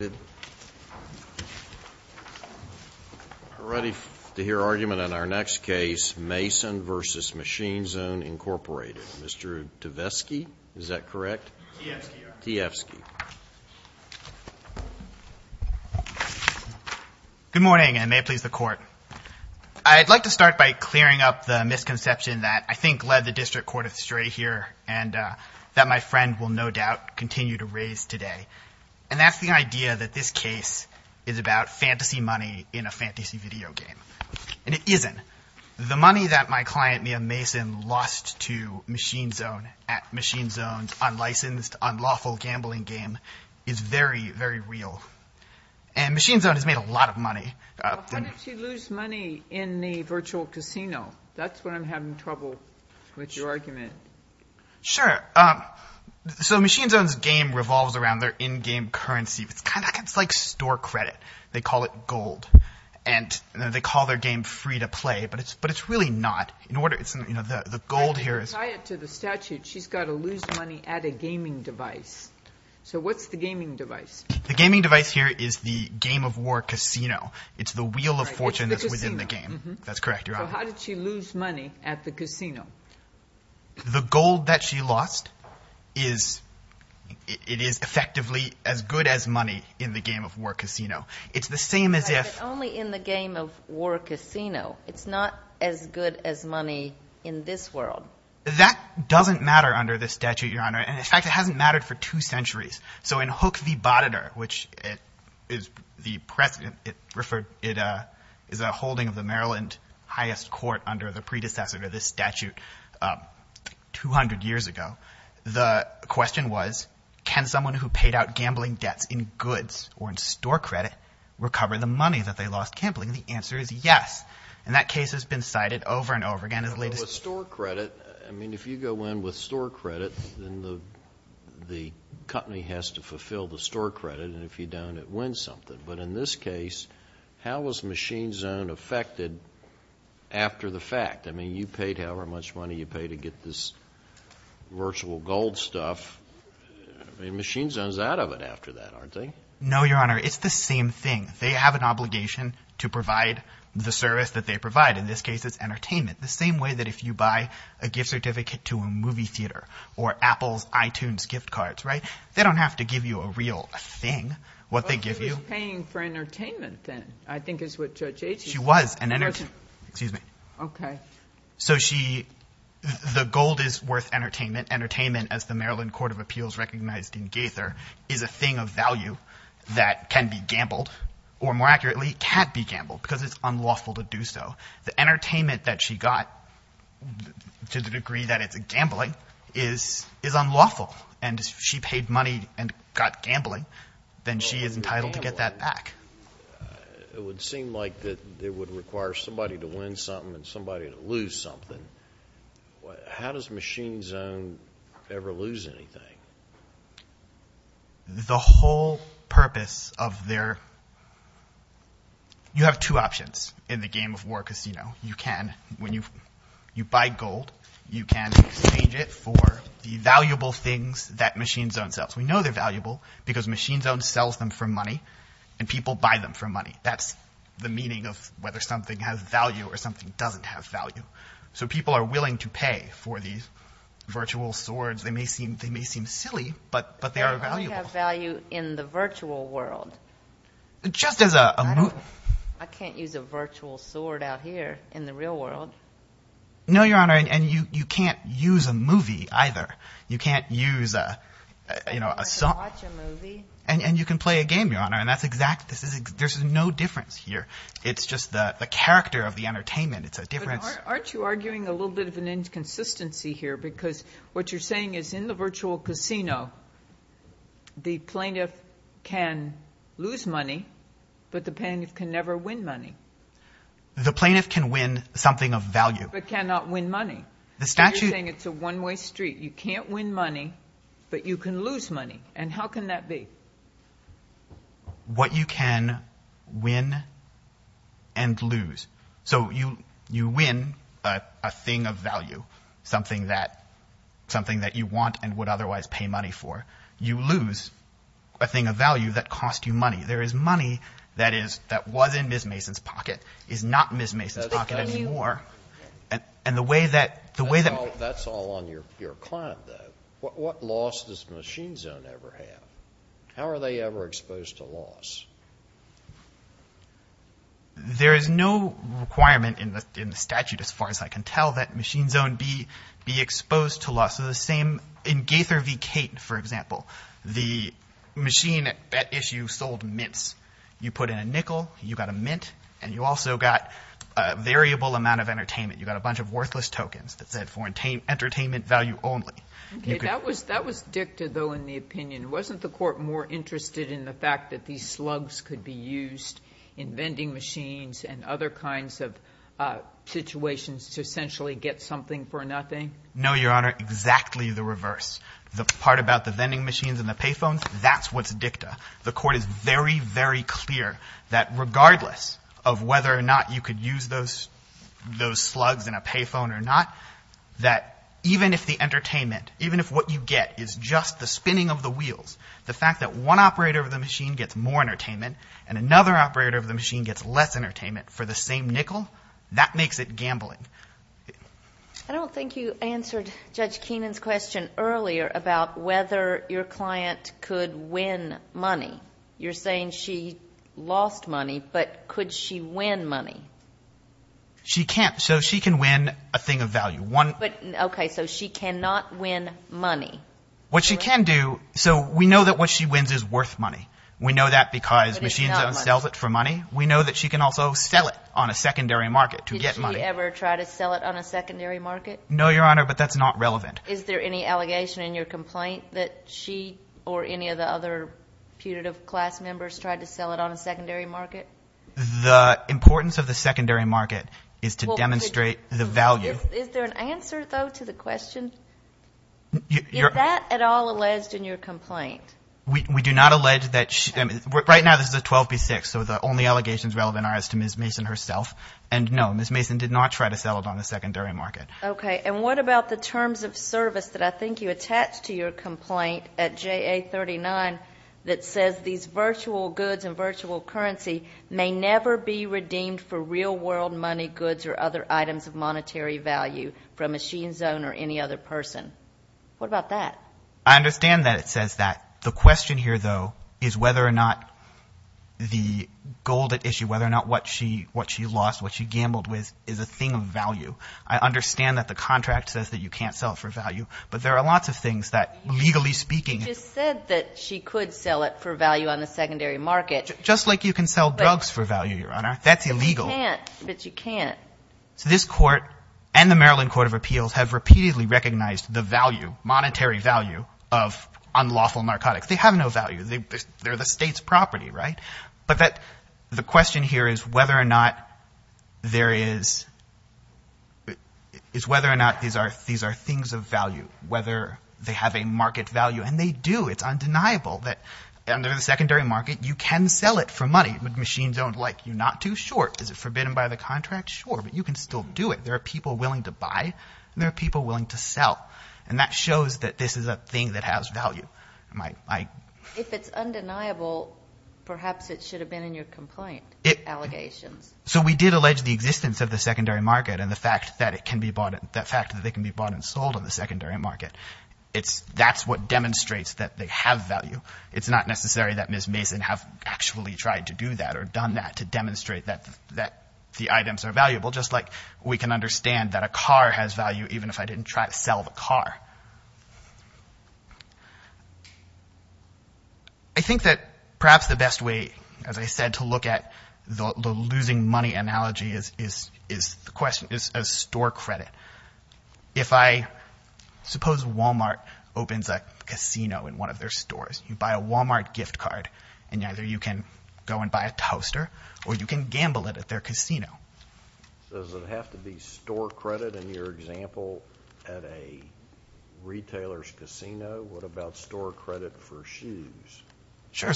We're ready to hear argument on our next case, Mason v. Machine Zone, Inc. Mr. Tevesky, is that correct? Tevesky, yes. Tevesky. Good morning, and may it please the Court. I'd like to start by clearing up the misconception that I think led the District Court astray here and that my friend will no doubt continue to raise today. And that's the idea that this case is about fantasy money in a fantasy video game. And it isn't. The money that my client, Liam Mason, lost to Machine Zone at Machine Zone's unlicensed, unlawful gambling game is very, very real. And Machine Zone has made a lot of money. Why didn't you lose money in the virtual casino? That's what I'm having trouble with your argument. Sure. So Machine Zone's game revolves around their in-game currency. It's kind of like store credit. They call it gold. And they call their game free-to-play, but it's really not. The gold here is... To tie it to the statute, she's got to lose money at a gaming device. So what's the gaming device? The gaming device here is the Game of War casino. It's the wheel of fortune that's within the game. It's the casino. That's correct, Your Honor. So how did she lose money at the casino? The gold that she lost is effectively as good as money in the Game of War casino. It's the same as if... But only in the Game of War casino. It's not as good as money in this world. That doesn't matter under this statute, Your Honor. And, in fact, it hasn't mattered for two centuries. So in Hook v. Boteter, which is the precedent it referred... is a holding of the Maryland highest court under the predecessor to this statute 200 years ago, the question was, can someone who paid out gambling debts in goods or in store credit recover the money that they lost gambling? The answer is yes. And that case has been cited over and over again as the latest... With store credit, I mean, if you go in with store credit, then the company has to fulfill the store credit. And if you don't, it wins something. But in this case, how was Machine Zone affected after the fact? I mean, you paid however much money you paid to get this virtual gold stuff. I mean, Machine Zone's out of it after that, aren't they? No, Your Honor. It's the same thing. They have an obligation to provide the service that they provide. In this case, it's entertainment. The same way that if you buy a gift certificate to a movie theater or Apple's iTunes gift cards, right? They don't have to give you a real thing. What they give you... But she was paying for entertainment then, I think is what Judge Aitken said. She was. Excuse me. Okay. So the gold is worth entertainment. Entertainment, as the Maryland Court of Appeals recognized in Gaither, is a thing of value that can be gambled or, more accurately, can't be gambled because it's unlawful to do so. The entertainment that she got, to the degree that it's gambling, is unlawful. And if she paid money and got gambling, then she is entitled to get that back. It would seem like it would require somebody to win something and somebody to lose something. How does Machine Zone ever lose anything? The whole purpose of their... You have two options in the game of war casino. You can, when you buy gold, you can exchange it for the valuable things that Machine Zone sells. We know they're valuable because Machine Zone sells them for money and people buy them for money. That's the meaning of whether something has value or something doesn't have value. So people are willing to pay for these virtual swords. They may seem silly, but they are valuable. They only have value in the virtual world. Just as a... I can't use a virtual sword out here in the real world. No, Your Honor, and you can't use a movie either. You can't use a... You can watch a movie. And you can play a game, Your Honor, and that's exactly... There's no difference here. It's just the character of the entertainment. It's a difference. But aren't you arguing a little bit of an inconsistency here because what you're saying is in the virtual casino, the plaintiff can lose money, but the plaintiff can never win money. The plaintiff can win something of value. But cannot win money. The statute... You're saying it's a one-way street. You can't win money, but you can lose money. And how can that be? What you can win and lose. So you win a thing of value, something that you want and would otherwise pay money for. You lose a thing of value that costs you money. There is money that was in Ms. Mason's pocket, is not in Ms. Mason's pocket anymore. And the way that... That's all on your client, though. What loss does Machine Zone ever have? How are they ever exposed to loss? There is no requirement in the statute, as far as I can tell, that Machine Zone be exposed to loss. In Gaither v. Cate, for example, the machine at issue sold mints. You put in a nickel, you got a mint, and you also got a variable amount of entertainment. You got a bunch of worthless tokens that said, for entertainment value only. Okay. That was dicted, though, in the opinion. Wasn't the court more interested in the fact that these slugs could be used in vending machines and other kinds of situations to essentially get something for nothing? No, Your Honor. Exactly the reverse. The part about the vending machines and the pay phones, that's what's dicta. The court is very, very clear that regardless of whether or not you could use those slugs in a pay phone or not, that even if the entertainment, even if what you get is just the spinning of the wheels, the fact that one operator of the machine gets more entertainment and another operator of the machine gets less entertainment for the same nickel, that makes it gambling. I don't think you answered Judge Keenan's question earlier about whether your client could win money. You're saying she lost money, but could she win money? She can't. So she can win a thing of value. Okay. So she cannot win money. What she can do, so we know that what she wins is worth money. We know that because machines don't sell it for money. We know that she can also sell it on a secondary market to get money. Did she ever try to sell it on a secondary market? No, Your Honor, but that's not relevant. Is there any allegation in your complaint that she or any of the other putative class members tried to sell it on a secondary market? The importance of the secondary market is to demonstrate the value. Is there an answer, though, to the question? Is that at all alleged in your complaint? We do not allege that. Right now this is a 12B6, so the only allegations relevant are as to Ms. Mason herself. And, no, Ms. Mason did not try to sell it on a secondary market. Okay. And what about the terms of service that I think you attached to your complaint at JA39 that says these virtual goods and virtual currency may never be redeemed for real-world money, goods, or other items of monetary value from a machine's owner or any other person? What about that? I understand that it says that. The question here, though, is whether or not the gold at issue, whether or not what she lost, what she gambled with, is a thing of value. I understand that the contract says that you can't sell it for value, but there are lots of things that legally speaking. You just said that she could sell it for value on the secondary market. Just like you can sell drugs for value, Your Honor. That's illegal. But you can't. So this Court and the Maryland Court of Appeals have repeatedly recognized the value, of unlawful narcotics. They have no value. They're the state's property, right? But the question here is whether or not these are things of value, whether they have a market value. And they do. It's undeniable that under the secondary market you can sell it for money. Machines don't like you. Not too short. Is it forbidden by the contract? Sure. But you can still do it. There are people willing to buy and there are people willing to sell. And that shows that this is a thing that has value. If it's undeniable, perhaps it should have been in your complaint, allegations. So we did allege the existence of the secondary market and the fact that it can be bought and sold on the secondary market. That's what demonstrates that they have value. It's not necessary that Ms. Mason have actually tried to do that or done that to demonstrate that the items are valuable. Just like we can understand that a car has value even if I didn't try to sell the car. I think that perhaps the best way, as I said, to look at the losing money analogy is a store credit. Suppose Walmart opens a casino in one of their stores. You buy a Walmart gift card. And either you can go and buy a toaster or you can gamble it at their casino. Does it have to be store credit in your example at a retailer's casino? What about store credit for shoes? Sure.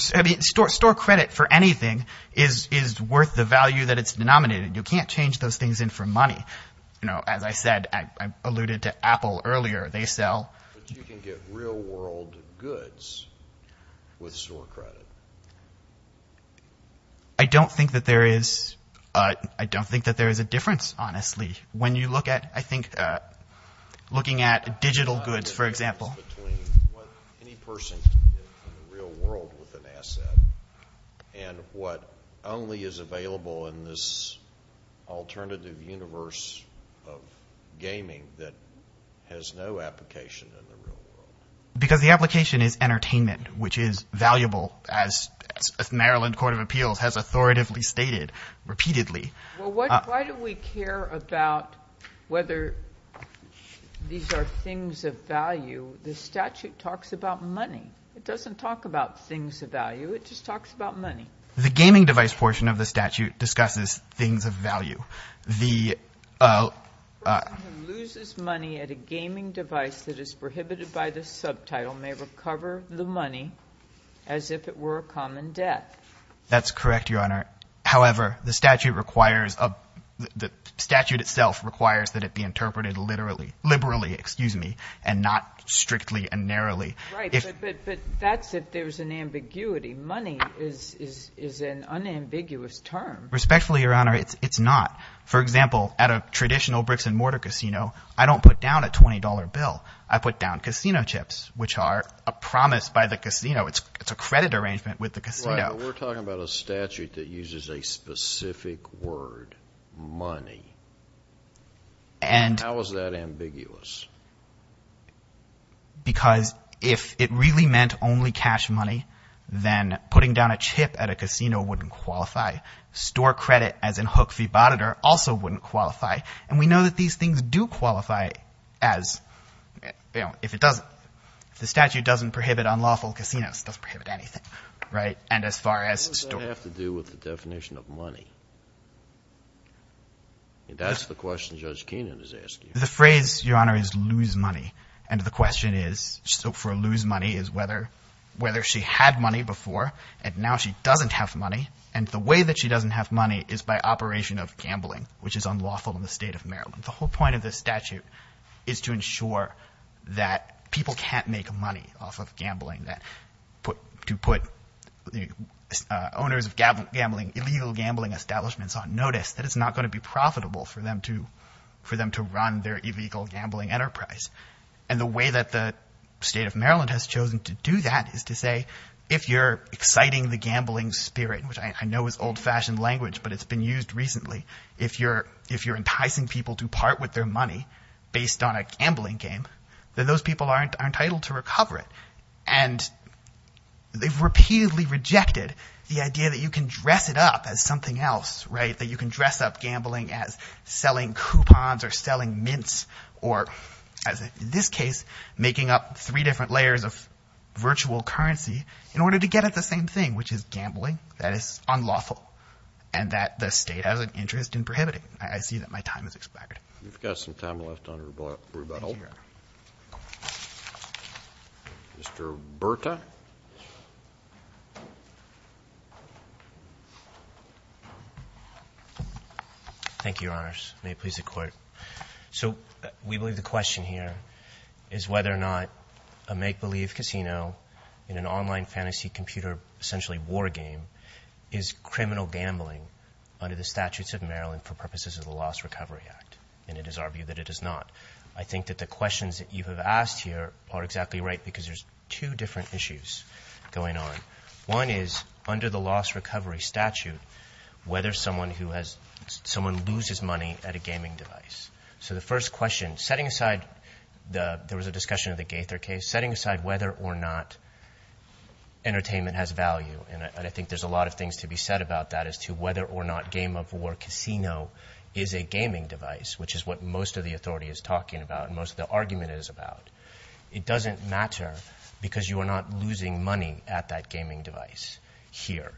Store credit for anything is worth the value that it's denominated. You can't change those things in for money. As I said, I alluded to Apple earlier. But you can get real world goods with store credit. I don't think that there is a difference, honestly. When you look at, I think, looking at digital goods, for example. There's a lot of difference between what any person can get in the real world with an asset and what only is available in this alternative universe of gaming that has no application in the real world. Because the application is entertainment, which is valuable, as Maryland Court of Appeals has authoritatively stated repeatedly. Why do we care about whether these are things of value? The statute talks about money. It doesn't talk about things of value. It just talks about money. The gaming device portion of the statute discusses things of value. The person who loses money at a gaming device that is prohibited by this subtitle may recover the money as if it were a common debt. That's correct, Your Honor. However, the statute requires that it be interpreted liberally and not strictly and narrowly. Right, but that's if there's an ambiguity. Money is an unambiguous term. Respectfully, Your Honor, it's not. For example, at a traditional bricks-and-mortar casino, I don't put down a $20 bill. I put down casino chips, which are a promise by the casino. It's a credit arrangement with the casino. We're talking about a statute that uses a specific word, money. How is that ambiguous? Because if it really meant only cash money, then putting down a chip at a casino wouldn't qualify. Store credit, as in hook fee bond, also wouldn't qualify. And we know that these things do qualify as, you know, if it doesn't. If the statute doesn't prohibit unlawful casinos, it doesn't prohibit anything, right, and as far as store. What does that have to do with the definition of money? That's the question Judge Keenan is asking. The phrase, Your Honor, is lose money, and the question is, for lose money, is whether she had money before, and now she doesn't have money, and the way that she doesn't have money is by operation of gambling, which is unlawful in the state of Maryland. The whole point of this statute is to ensure that people can't make money off of gambling, to put the owners of illegal gambling establishments on notice, that it's not going to be profitable for them to run their illegal gambling enterprise, and the way that the state of Maryland has chosen to do that is to say, if you're exciting the gambling spirit, which I know is old-fashioned language, but it's been used recently, if you're enticing people to part with their money based on a gambling game, then those people are entitled to recover it, and they've repeatedly rejected the idea that you can dress it up as something else, right, that you can dress up gambling as selling coupons or selling mints or, as in this case, making up three different layers of virtual currency in order to get at the same thing, which is gambling that is unlawful and that the state has an interest in prohibiting. I see that my time has expired. We've got some time left under rebuttal. Mr. Berta. Thank you, Your Honors. May it please the Court. So we believe the question here is whether or not a make-believe casino in an online fantasy computer, essentially war game, is criminal gambling under the statutes of Maryland for purposes of the Loss Recovery Act, and it is argued that it is not. I think that the questions that you have asked here are exactly right because there's two different issues going on. One is, under the loss recovery statute, whether someone loses money at a gaming device. So the first question, setting aside, there was a discussion of the Gaither case, setting aside whether or not entertainment has value, and I think there's a lot of things to be said about that as to whether or not game or casino is a gaming device, which is what most of the authority is talking about and most of the argument is about. It doesn't matter because you are not losing money at that gaming device here.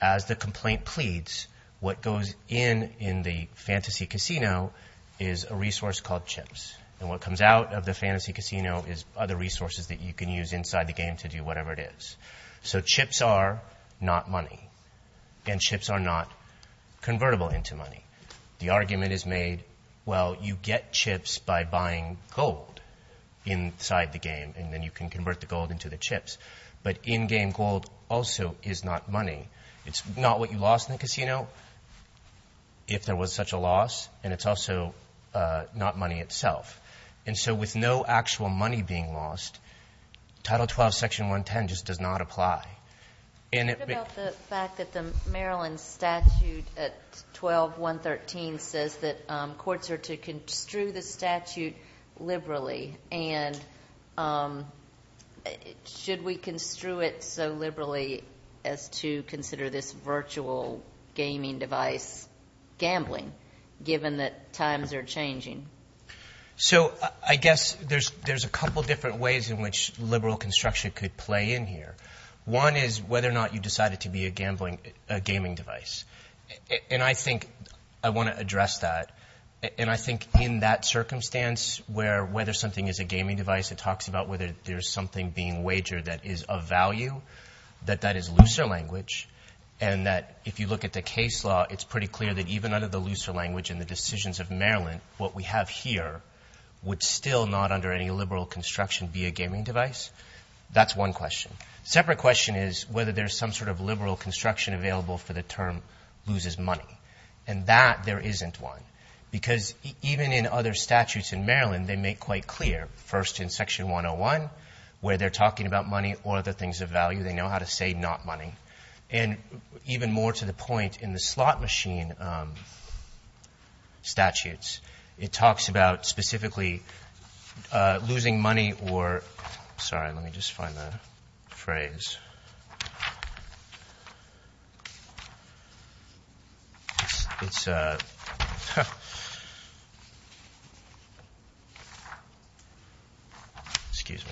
As the complaint pleads, what goes in in the fantasy casino is a resource called chips, and what comes out of the fantasy casino is other resources that you can use inside the game to do whatever it is. So chips are not money, and chips are not convertible into money. The argument is made, well, you get chips by buying gold inside the game, and then you can convert the gold into the chips. But in-game gold also is not money. It's not what you lost in the casino if there was such a loss, and it's also not money itself. And so with no actual money being lost, Title 12, Section 110 just does not apply. What about the fact that the Maryland statute at 12.113 says that courts are to construe the statute liberally, and should we construe it so liberally as to consider this virtual gaming device gambling, given that times are changing? So I guess there's a couple different ways in which liberal construction could play in here. One is whether or not you decided to be a gaming device, and I think I want to address that. And I think in that circumstance where whether something is a gaming device, it talks about whether there's something being wagered that is of value, that that is looser language, and that if you look at the case law, it's pretty clear that even under the looser language and the decisions of Maryland, what we have here would still not under any liberal construction be a gaming device. That's one question. Separate question is whether there's some sort of liberal construction available for the term loses money. And that there isn't one, because even in other statutes in Maryland, they make quite clear, first in Section 101 where they're talking about money or other things of value. They know how to say not money. And even more to the point in the slot machine statutes, it talks about specifically losing money or – sorry, let me just find the phrase. It's – it's – excuse me.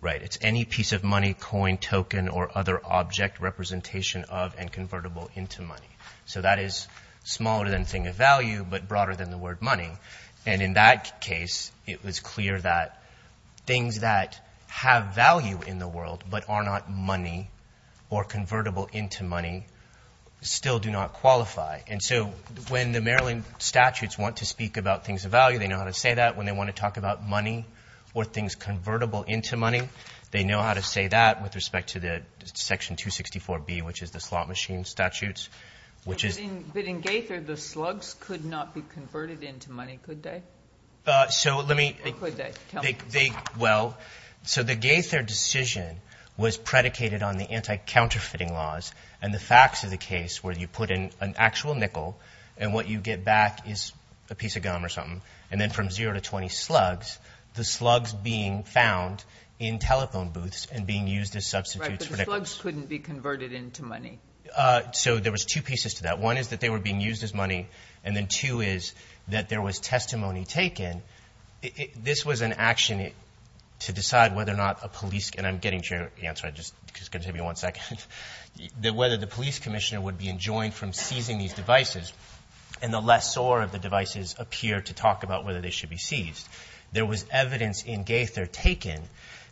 Right, it's any piece of money, coin, token, or other object representation of and convertible into money. So that is smaller than thing of value but broader than the word money. And in that case, it was clear that things that have value in the world but are not money or convertible into money still do not qualify. And so when the Maryland statutes want to speak about things of value, they know how to say that. When they want to talk about money or things convertible into money, they know how to say that with respect to the Section 264B, which is the slot machine statutes, which is – But in Gaither, the slugs could not be converted into money, could they? So let me – Or could they? Tell me. Well, so the Gaither decision was predicated on the anti-counterfeiting laws and the facts of the case where you put in an actual nickel and what you get back is a piece of gum or something. And then from zero to 20 slugs, the slugs being found in telephone booths and being used as substitutes. Right, but the slugs couldn't be converted into money. So there was two pieces to that. One is that they were being used as money, and then two is that there was testimony taken. This was an action to decide whether or not a police – and I'm getting to your answer, I'm just going to give you one second – that whether the police commissioner would be enjoined from seizing these devices. And the lessor of the devices appeared to talk about whether they should be seized. There was evidence in Gaither taken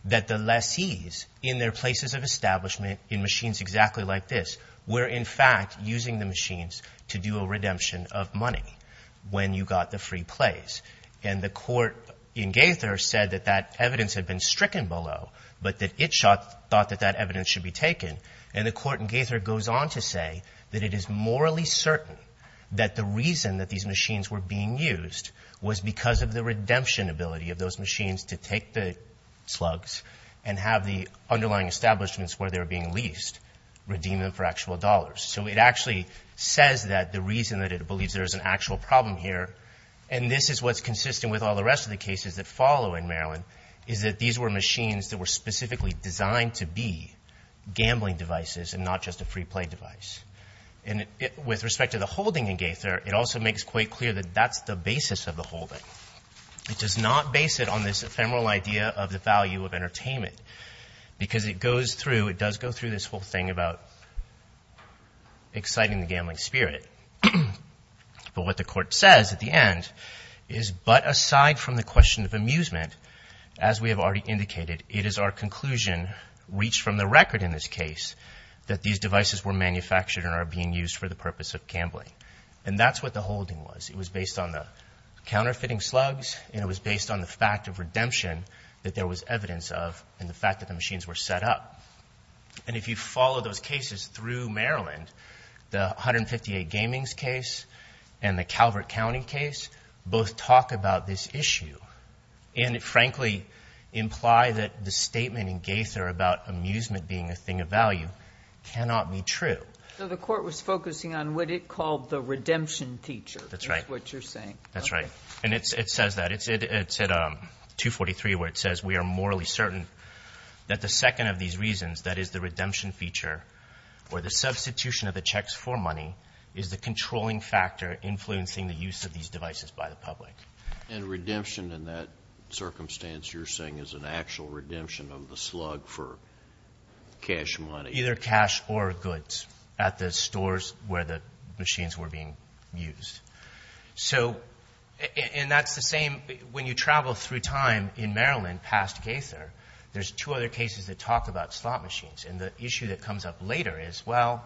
that the lessees in their places of establishment in machines exactly like this were in fact using the machines to do a redemption of money when you got the free plays. And the court in Gaither said that that evidence had been stricken below, but that it thought that that evidence should be taken. And the court in Gaither goes on to say that it is morally certain that the reason that these machines were being used was because of the redemption ability of those machines to take the slugs and have the underlying establishments where they were being leased redeem them for actual dollars. So it actually says that the reason that it believes there is an actual problem here, and this is what's consistent with all the rest of the cases that follow in Maryland, is that these were machines that were specifically designed to be gambling devices and not just a free play device. And with respect to the holding in Gaither, it also makes quite clear that that's the basis of the holding. It does not base it on this ephemeral idea of the value of entertainment because it goes through – it does go through this whole thing about exciting the gambling spirit. But what the court says at the end is, but aside from the question of amusement, as we have already indicated, it is our conclusion reached from the record in this case that these devices were manufactured and are being used for the purpose of gambling. And that's what the holding was. It was based on the counterfeiting slugs and it was based on the fact of redemption that there was evidence of and the fact that the machines were set up. And if you follow those cases through Maryland, the 158 Gamings case and the Calvert County case both talk about this issue and frankly imply that the statement in Gaither about amusement being a thing of value cannot be true. So the court was focusing on what it called the redemption teacher is what you're saying. That's right. That's right. And it says that. It's at 243 where it says we are morally certain that the second of these reasons, that is the redemption feature or the substitution of the checks for money, is the controlling factor influencing the use of these devices by the public. And redemption in that circumstance you're saying is an actual redemption of the slug for cash money. Either cash or goods at the stores where the machines were being used. And that's the same when you travel through time in Maryland past Gaither. There's two other cases that talk about slot machines. And the issue that comes up later is, well,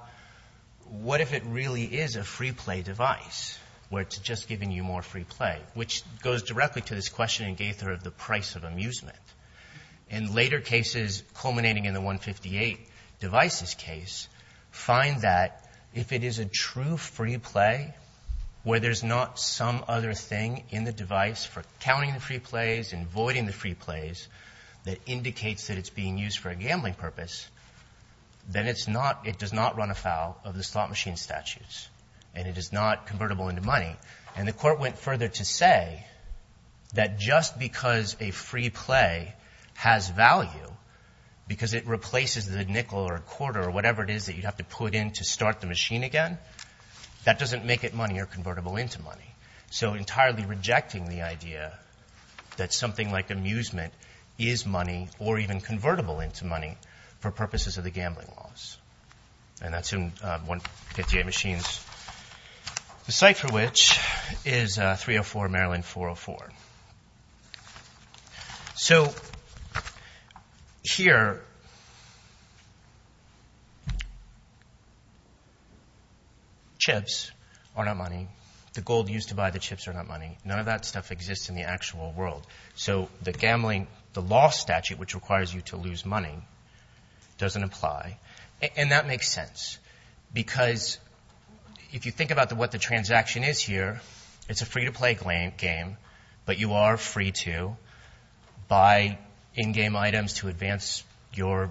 what if it really is a free play device where it's just giving you more free play, which goes directly to this question in Gaither of the price of amusement. And later cases culminating in the 158 devices case find that if it is a true free play, where there's not some other thing in the device for counting the free plays and voiding the free plays that indicates that it's being used for a gambling purpose, then it does not run afoul of the slot machine statutes. And it is not convertible into money. And the court went further to say that just because a free play has value, because it replaces the nickel or a quarter or whatever it is that you have to put in to start the machine again, that doesn't make it money or convertible into money. So entirely rejecting the idea that something like amusement is money or even convertible into money for purposes of the gambling laws. And that's in 158 machines, the site for which is 304 Maryland 404. So here chips are not money. The gold used to buy the chips are not money. None of that stuff exists in the actual world. So the gambling, the law statute, which requires you to lose money, doesn't apply. And that makes sense because if you think about what the transaction is here, it's a free-to-play game, but you are free to buy in-game items to advance your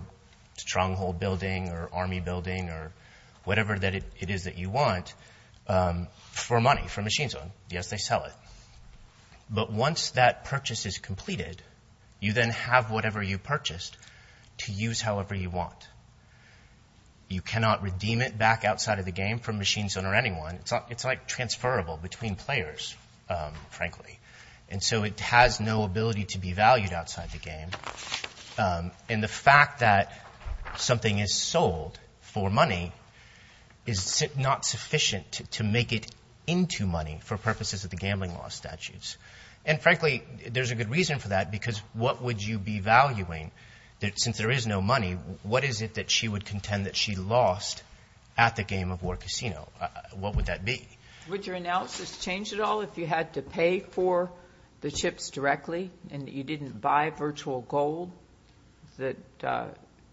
stronghold building or army building or whatever it is that you want for money, for machine zone. Yes, they sell it. But once that purchase is completed, you then have whatever you purchased to use however you want. You cannot redeem it back outside of the game from machine zone or anyone. It's like transferable between players, frankly. And so it has no ability to be valued outside the game. And the fact that something is sold for money is not sufficient to make it into money for purposes of the gambling law statutes. And, frankly, there's a good reason for that because what would you be valuing? Since there is no money, what is it that she would contend that she lost at the Game of War Casino? What would that be? Would your analysis change at all if you had to pay for the chips directly and you didn't buy virtual gold that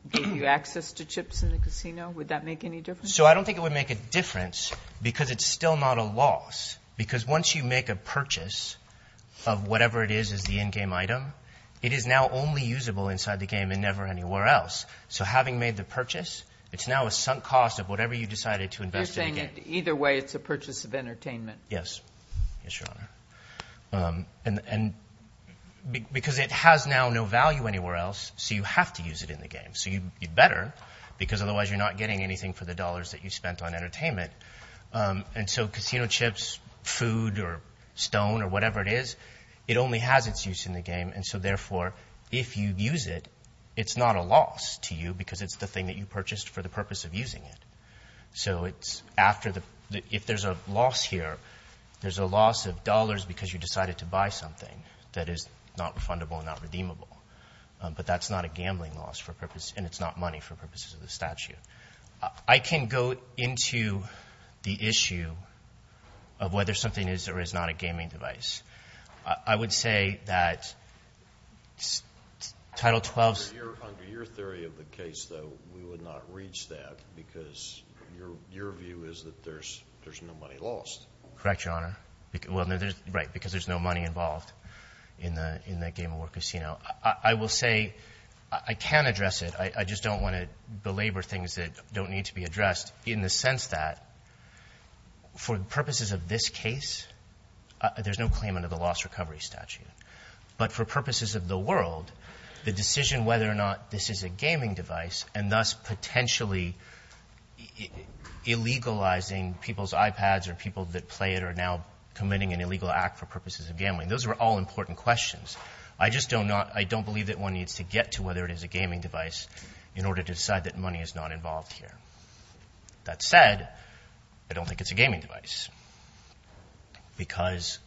gave you access to chips in the casino? Would that make any difference? So I don't think it would make a difference because it's still not a loss because once you make a purchase of whatever it is as the in-game item, it is now only usable inside the game and never anywhere else. So having made the purchase, it's now a sunk cost of whatever you decided to invest in the game. Either way, it's a purchase of entertainment. Yes. Yes, Your Honor. And because it has now no value anywhere else, so you have to use it in the game. So you'd better because otherwise you're not getting anything for the dollars that you spent on entertainment. And so casino chips, food, or stone, or whatever it is, it only has its use in the game. And so, therefore, if you use it, it's not a loss to you because it's the thing that you purchased for the purpose of using it. So if there's a loss here, there's a loss of dollars because you decided to buy something that is not refundable and not redeemable. But that's not a gambling loss and it's not money for purposes of the statute. I can go into the issue of whether something is or is not a gaming device. I would say that Title XII's... Under your theory of the case, though, we would not reach that because your view is that there's no money lost. Correct, Your Honor. Well, right, because there's no money involved in the game or casino. I will say I can address it. I just don't want to belabor things that don't need to be addressed in the sense that for the purposes of this case, there's no claim under the loss recovery statute. But for purposes of the world, the decision whether or not this is a gaming device and thus potentially illegalizing people's iPads or people that play it are now committing an illegal act for purposes of gambling. Those are all important questions. I just don't believe that one needs to get to whether it is a gaming device in order to decide that money is not involved here. That said, I don't think it's a gaming device because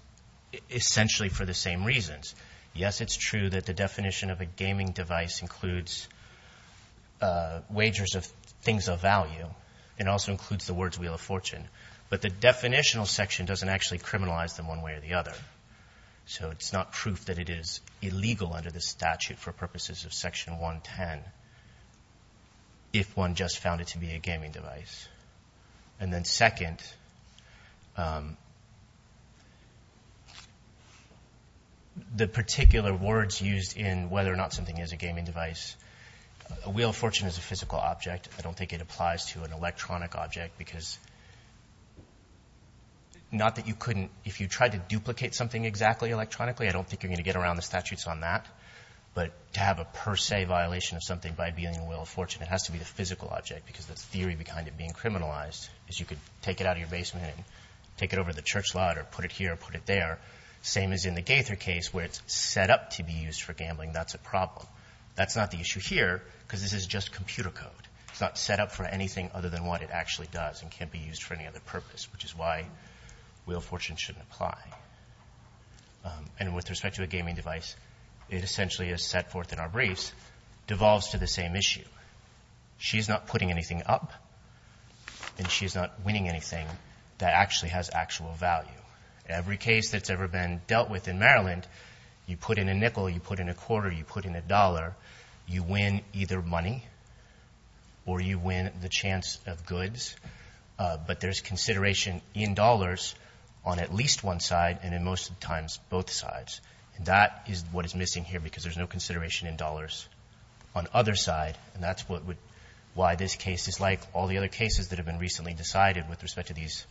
essentially for the same reasons. Yes, it's true that the definition of a gaming device includes wagers of things of value. It also includes the words wheel of fortune. But the definitional section doesn't actually criminalize them one way or the other. So it's not proof that it is illegal under the statute for purposes of Section 110 if one just found it to be a gaming device. And then second, the particular words used in whether or not something is a gaming device. A wheel of fortune is a physical object. I don't think it applies to an electronic object because not that you couldn't. If you tried to duplicate something exactly electronically, I don't think you're going to get around the statutes on that. But to have a per se violation of something by being a wheel of fortune, it has to be the physical object because the theory behind it being criminalized is you could take it out of your basement and take it over to the church lot or put it here or put it there. Same as in the Gaither case where it's set up to be used for gambling. That's a problem. That's not the issue here because this is just computer code. It's not set up for anything other than what it actually does and can't be used for any other purpose, which is why wheel of fortune shouldn't apply. And with respect to a gaming device, it essentially is set forth in our briefs, devolves to the same issue. She's not putting anything up and she's not winning anything that actually has actual value. Every case that's ever been dealt with in Maryland, you put in a nickel, you put in a quarter, you put in a dollar, but there's consideration in dollars on at least one side and in most times both sides. That is what is missing here because there's no consideration in dollars on either side, and that's why this case is like all the other cases that have been recently decided with respect to these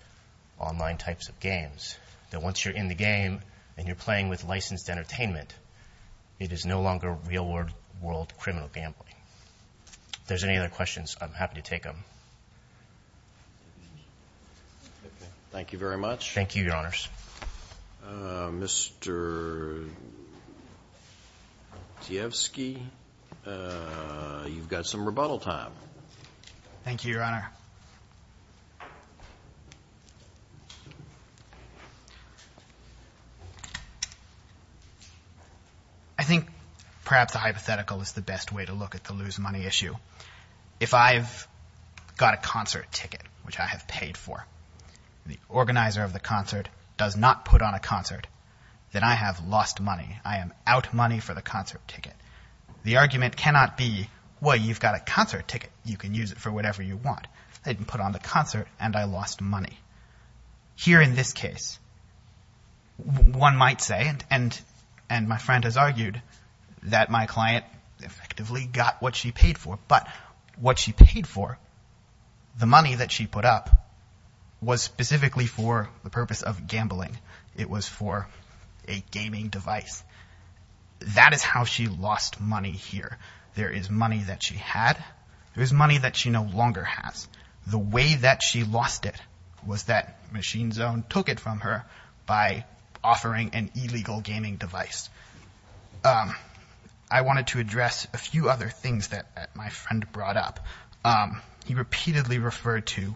online types of games, that once you're in the game and you're playing with licensed entertainment, it is no longer real-world criminal gambling. If there's any other questions, I'm happy to take them. Thank you very much. Thank you, Your Honors. Mr. Zievsky, you've got some rebuttal time. Thank you, Your Honor. I think perhaps the hypothetical is the best way to look at the lose money issue. If I've got a concert ticket, which I have paid for, the organizer of the concert does not put on a concert, then I have lost money. I am out money for the concert ticket. The argument cannot be, well, you've got a concert ticket. You can use it for whatever you want. They didn't put on the concert, and I lost money. Here in this case, one might say, and my friend has argued, that my client effectively got what she paid for, but what she paid for, the money that she put up, was specifically for the purpose of gambling. It was for a gaming device. That is how she lost money here. There is money that she had. There is money that she no longer has. The way that she lost it was that Machine Zone took it from her by offering an illegal gaming device. I wanted to address a few other things that my friend brought up. He repeatedly referred to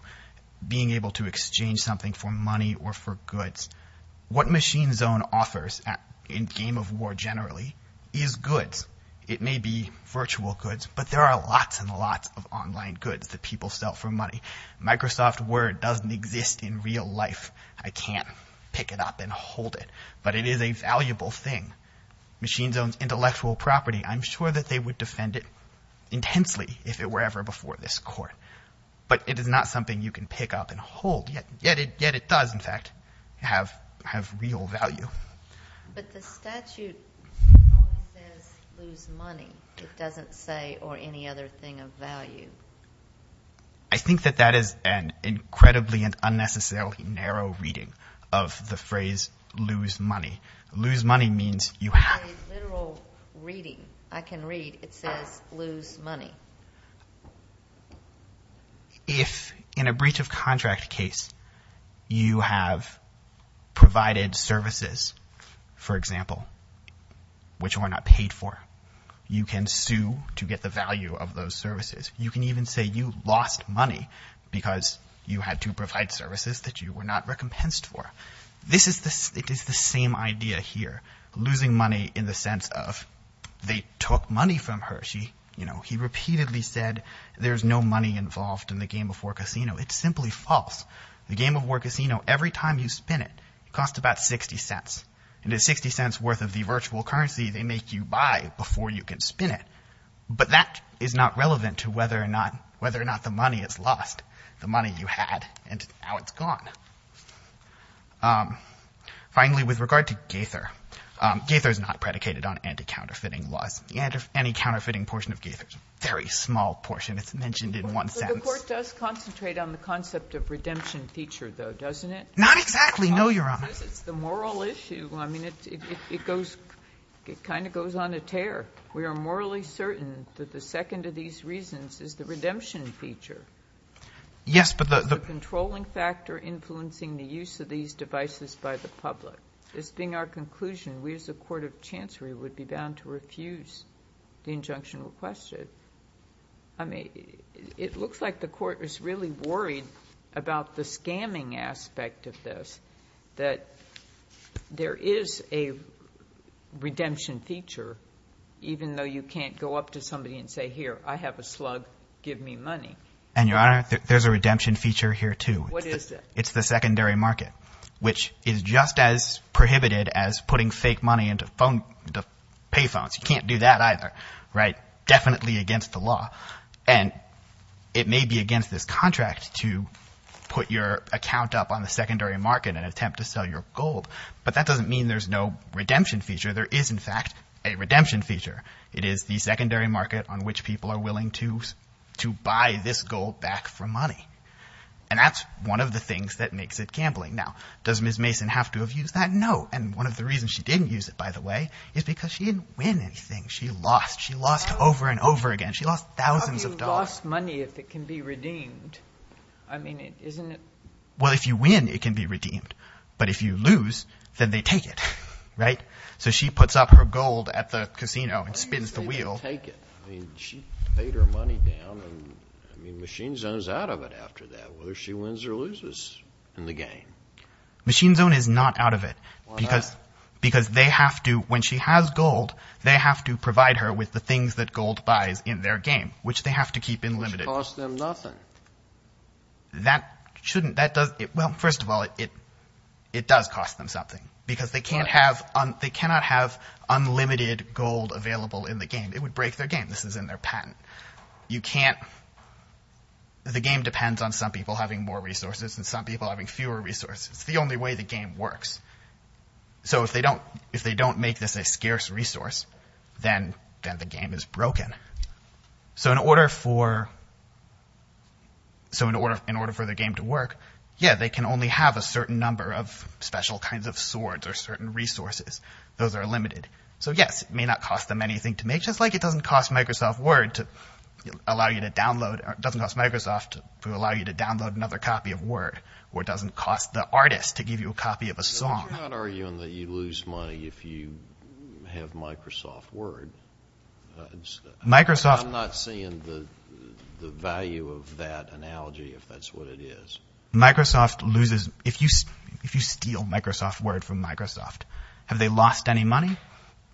being able to exchange something for money or for goods. What Machine Zone offers in Game of War generally is goods. It may be virtual goods, but there are lots and lots of online goods that people sell for money. Microsoft Word doesn't exist in real life. I can't pick it up and hold it, but it is a valuable thing. Machine Zone's intellectual property, I'm sure that they would defend it intensely if it were ever before this court, but it is not something you can pick up and hold, yet it does, in fact, have real value. But the statute only says lose money. It doesn't say or any other thing of value. I think that that is an incredibly and unnecessarily narrow reading of the phrase lose money. Lose money means you have— It's a literal reading. I can read. It says lose money. If in a breach of contract case you have provided services, for example, which were not paid for, you can sue to get the value of those services. You can even say you lost money because you had to provide services that you were not recompensed for. It is the same idea here, losing money in the sense of they took money from her. He repeatedly said there's no money involved in the game of War Casino. It's simply false. The game of War Casino, every time you spin it, it costs about $0.60, and at $0.60 worth of the virtual currency, they make you buy before you can spin it. But that is not relevant to whether or not the money is lost, the money you had, and now it's gone. Finally, with regard to Gaither, Gaither is not predicated on anti-counterfeiting laws. Any counterfeiting portion of Gaither is a very small portion. It's mentioned in one sentence. But the Court does concentrate on the concept of redemption feature, though, doesn't it? Not exactly. No, Your Honor. Because it's the moral issue. I mean, it goes — it kind of goes on a tear. We are morally certain that the second of these reasons is the redemption feature. Yes, but the — The controlling factor influencing the use of these devices by the public. This being our conclusion, we as a court of chancery would be bound to refuse the injunction requested. I mean, it looks like the Court is really worried about the scamming aspect of this, that there is a redemption feature, even though you can't go up to somebody and say, here, I have a slug, give me money. And, Your Honor, there's a redemption feature here, too. What is it? It's the secondary market, which is just as prohibited as putting fake money into pay phones. You can't do that, either. Right? Definitely against the law. And it may be against this contract to put your account up on the secondary market and attempt to sell your gold. But that doesn't mean there's no redemption feature. There is, in fact, a redemption feature. It is the secondary market on which people are willing to buy this gold back for money. And that's one of the things that makes it gambling. Now, does Ms. Mason have to have used that? No. And one of the reasons she didn't use it, by the way, is because she didn't win anything. She lost. She lost over and over again. She lost thousands of dollars. How can you lost money if it can be redeemed? I mean, isn't it – Well, if you win, it can be redeemed. But if you lose, then they take it. Right? So she puts up her gold at the casino and spins the wheel. I mean, she paid her money down. I mean, Machine Zone is out of it after that, whether she wins or loses in the game. Machine Zone is not out of it. Why not? Because they have to – when she has gold, they have to provide her with the things that gold buys in their game, which they have to keep in limited. Which costs them nothing. That shouldn't – that does – well, first of all, it does cost them something because they cannot have unlimited gold available in the game. It would break their game. This is in their patent. You can't – the game depends on some people having more resources and some people having fewer resources. It's the only way the game works. So if they don't make this a scarce resource, then the game is broken. So in order for the game to work, yeah, they can only have a certain number of special kinds of swords or certain resources. Those are limited. So yes, it may not cost them anything to make, just like it doesn't cost Microsoft Word to allow you to download – it doesn't cost Microsoft to allow you to download another copy of Word or it doesn't cost the artist to give you a copy of a song. You're not arguing that you lose money if you have Microsoft Word. Microsoft – I'm not seeing the value of that analogy if that's what it is. Microsoft loses – if you steal Microsoft Word from Microsoft, have they lost any money?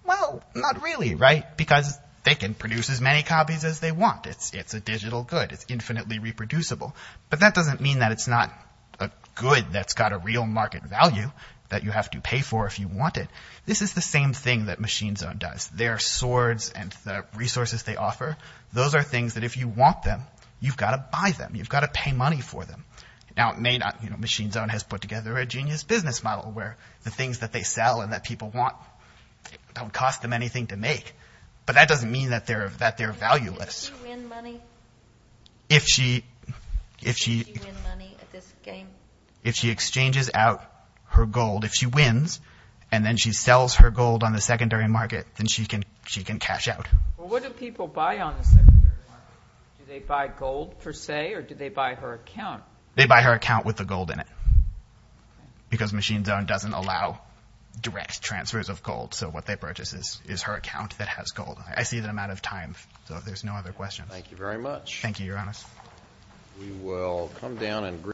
Well, not really, right? Because they can produce as many copies as they want. It's a digital good. It's infinitely reproducible. But that doesn't mean that it's not a good that's got a real market value that you have to pay for if you want it. This is the same thing that Machine Zone does. Their swords and the resources they offer, those are things that if you want them, you've got to buy them. You've got to pay money for them. Now, it may not – Machine Zone has put together a genius business model where the things that they sell and that people want don't cost them anything to make. But that doesn't mean that they're valueless. Does she win money? If she – Does she win money at this game? If she exchanges out her gold, if she wins and then she sells her gold on the secondary market, then she can cash out. What do people buy on the secondary market? Do they buy gold per se or do they buy her account? They buy her account with the gold in it because Machine Zone doesn't allow direct transfers of gold. So what they purchase is her account that has gold. I see that I'm out of time, so if there's no other questions. Thank you very much. Thank you, Your Honor. We will come down and –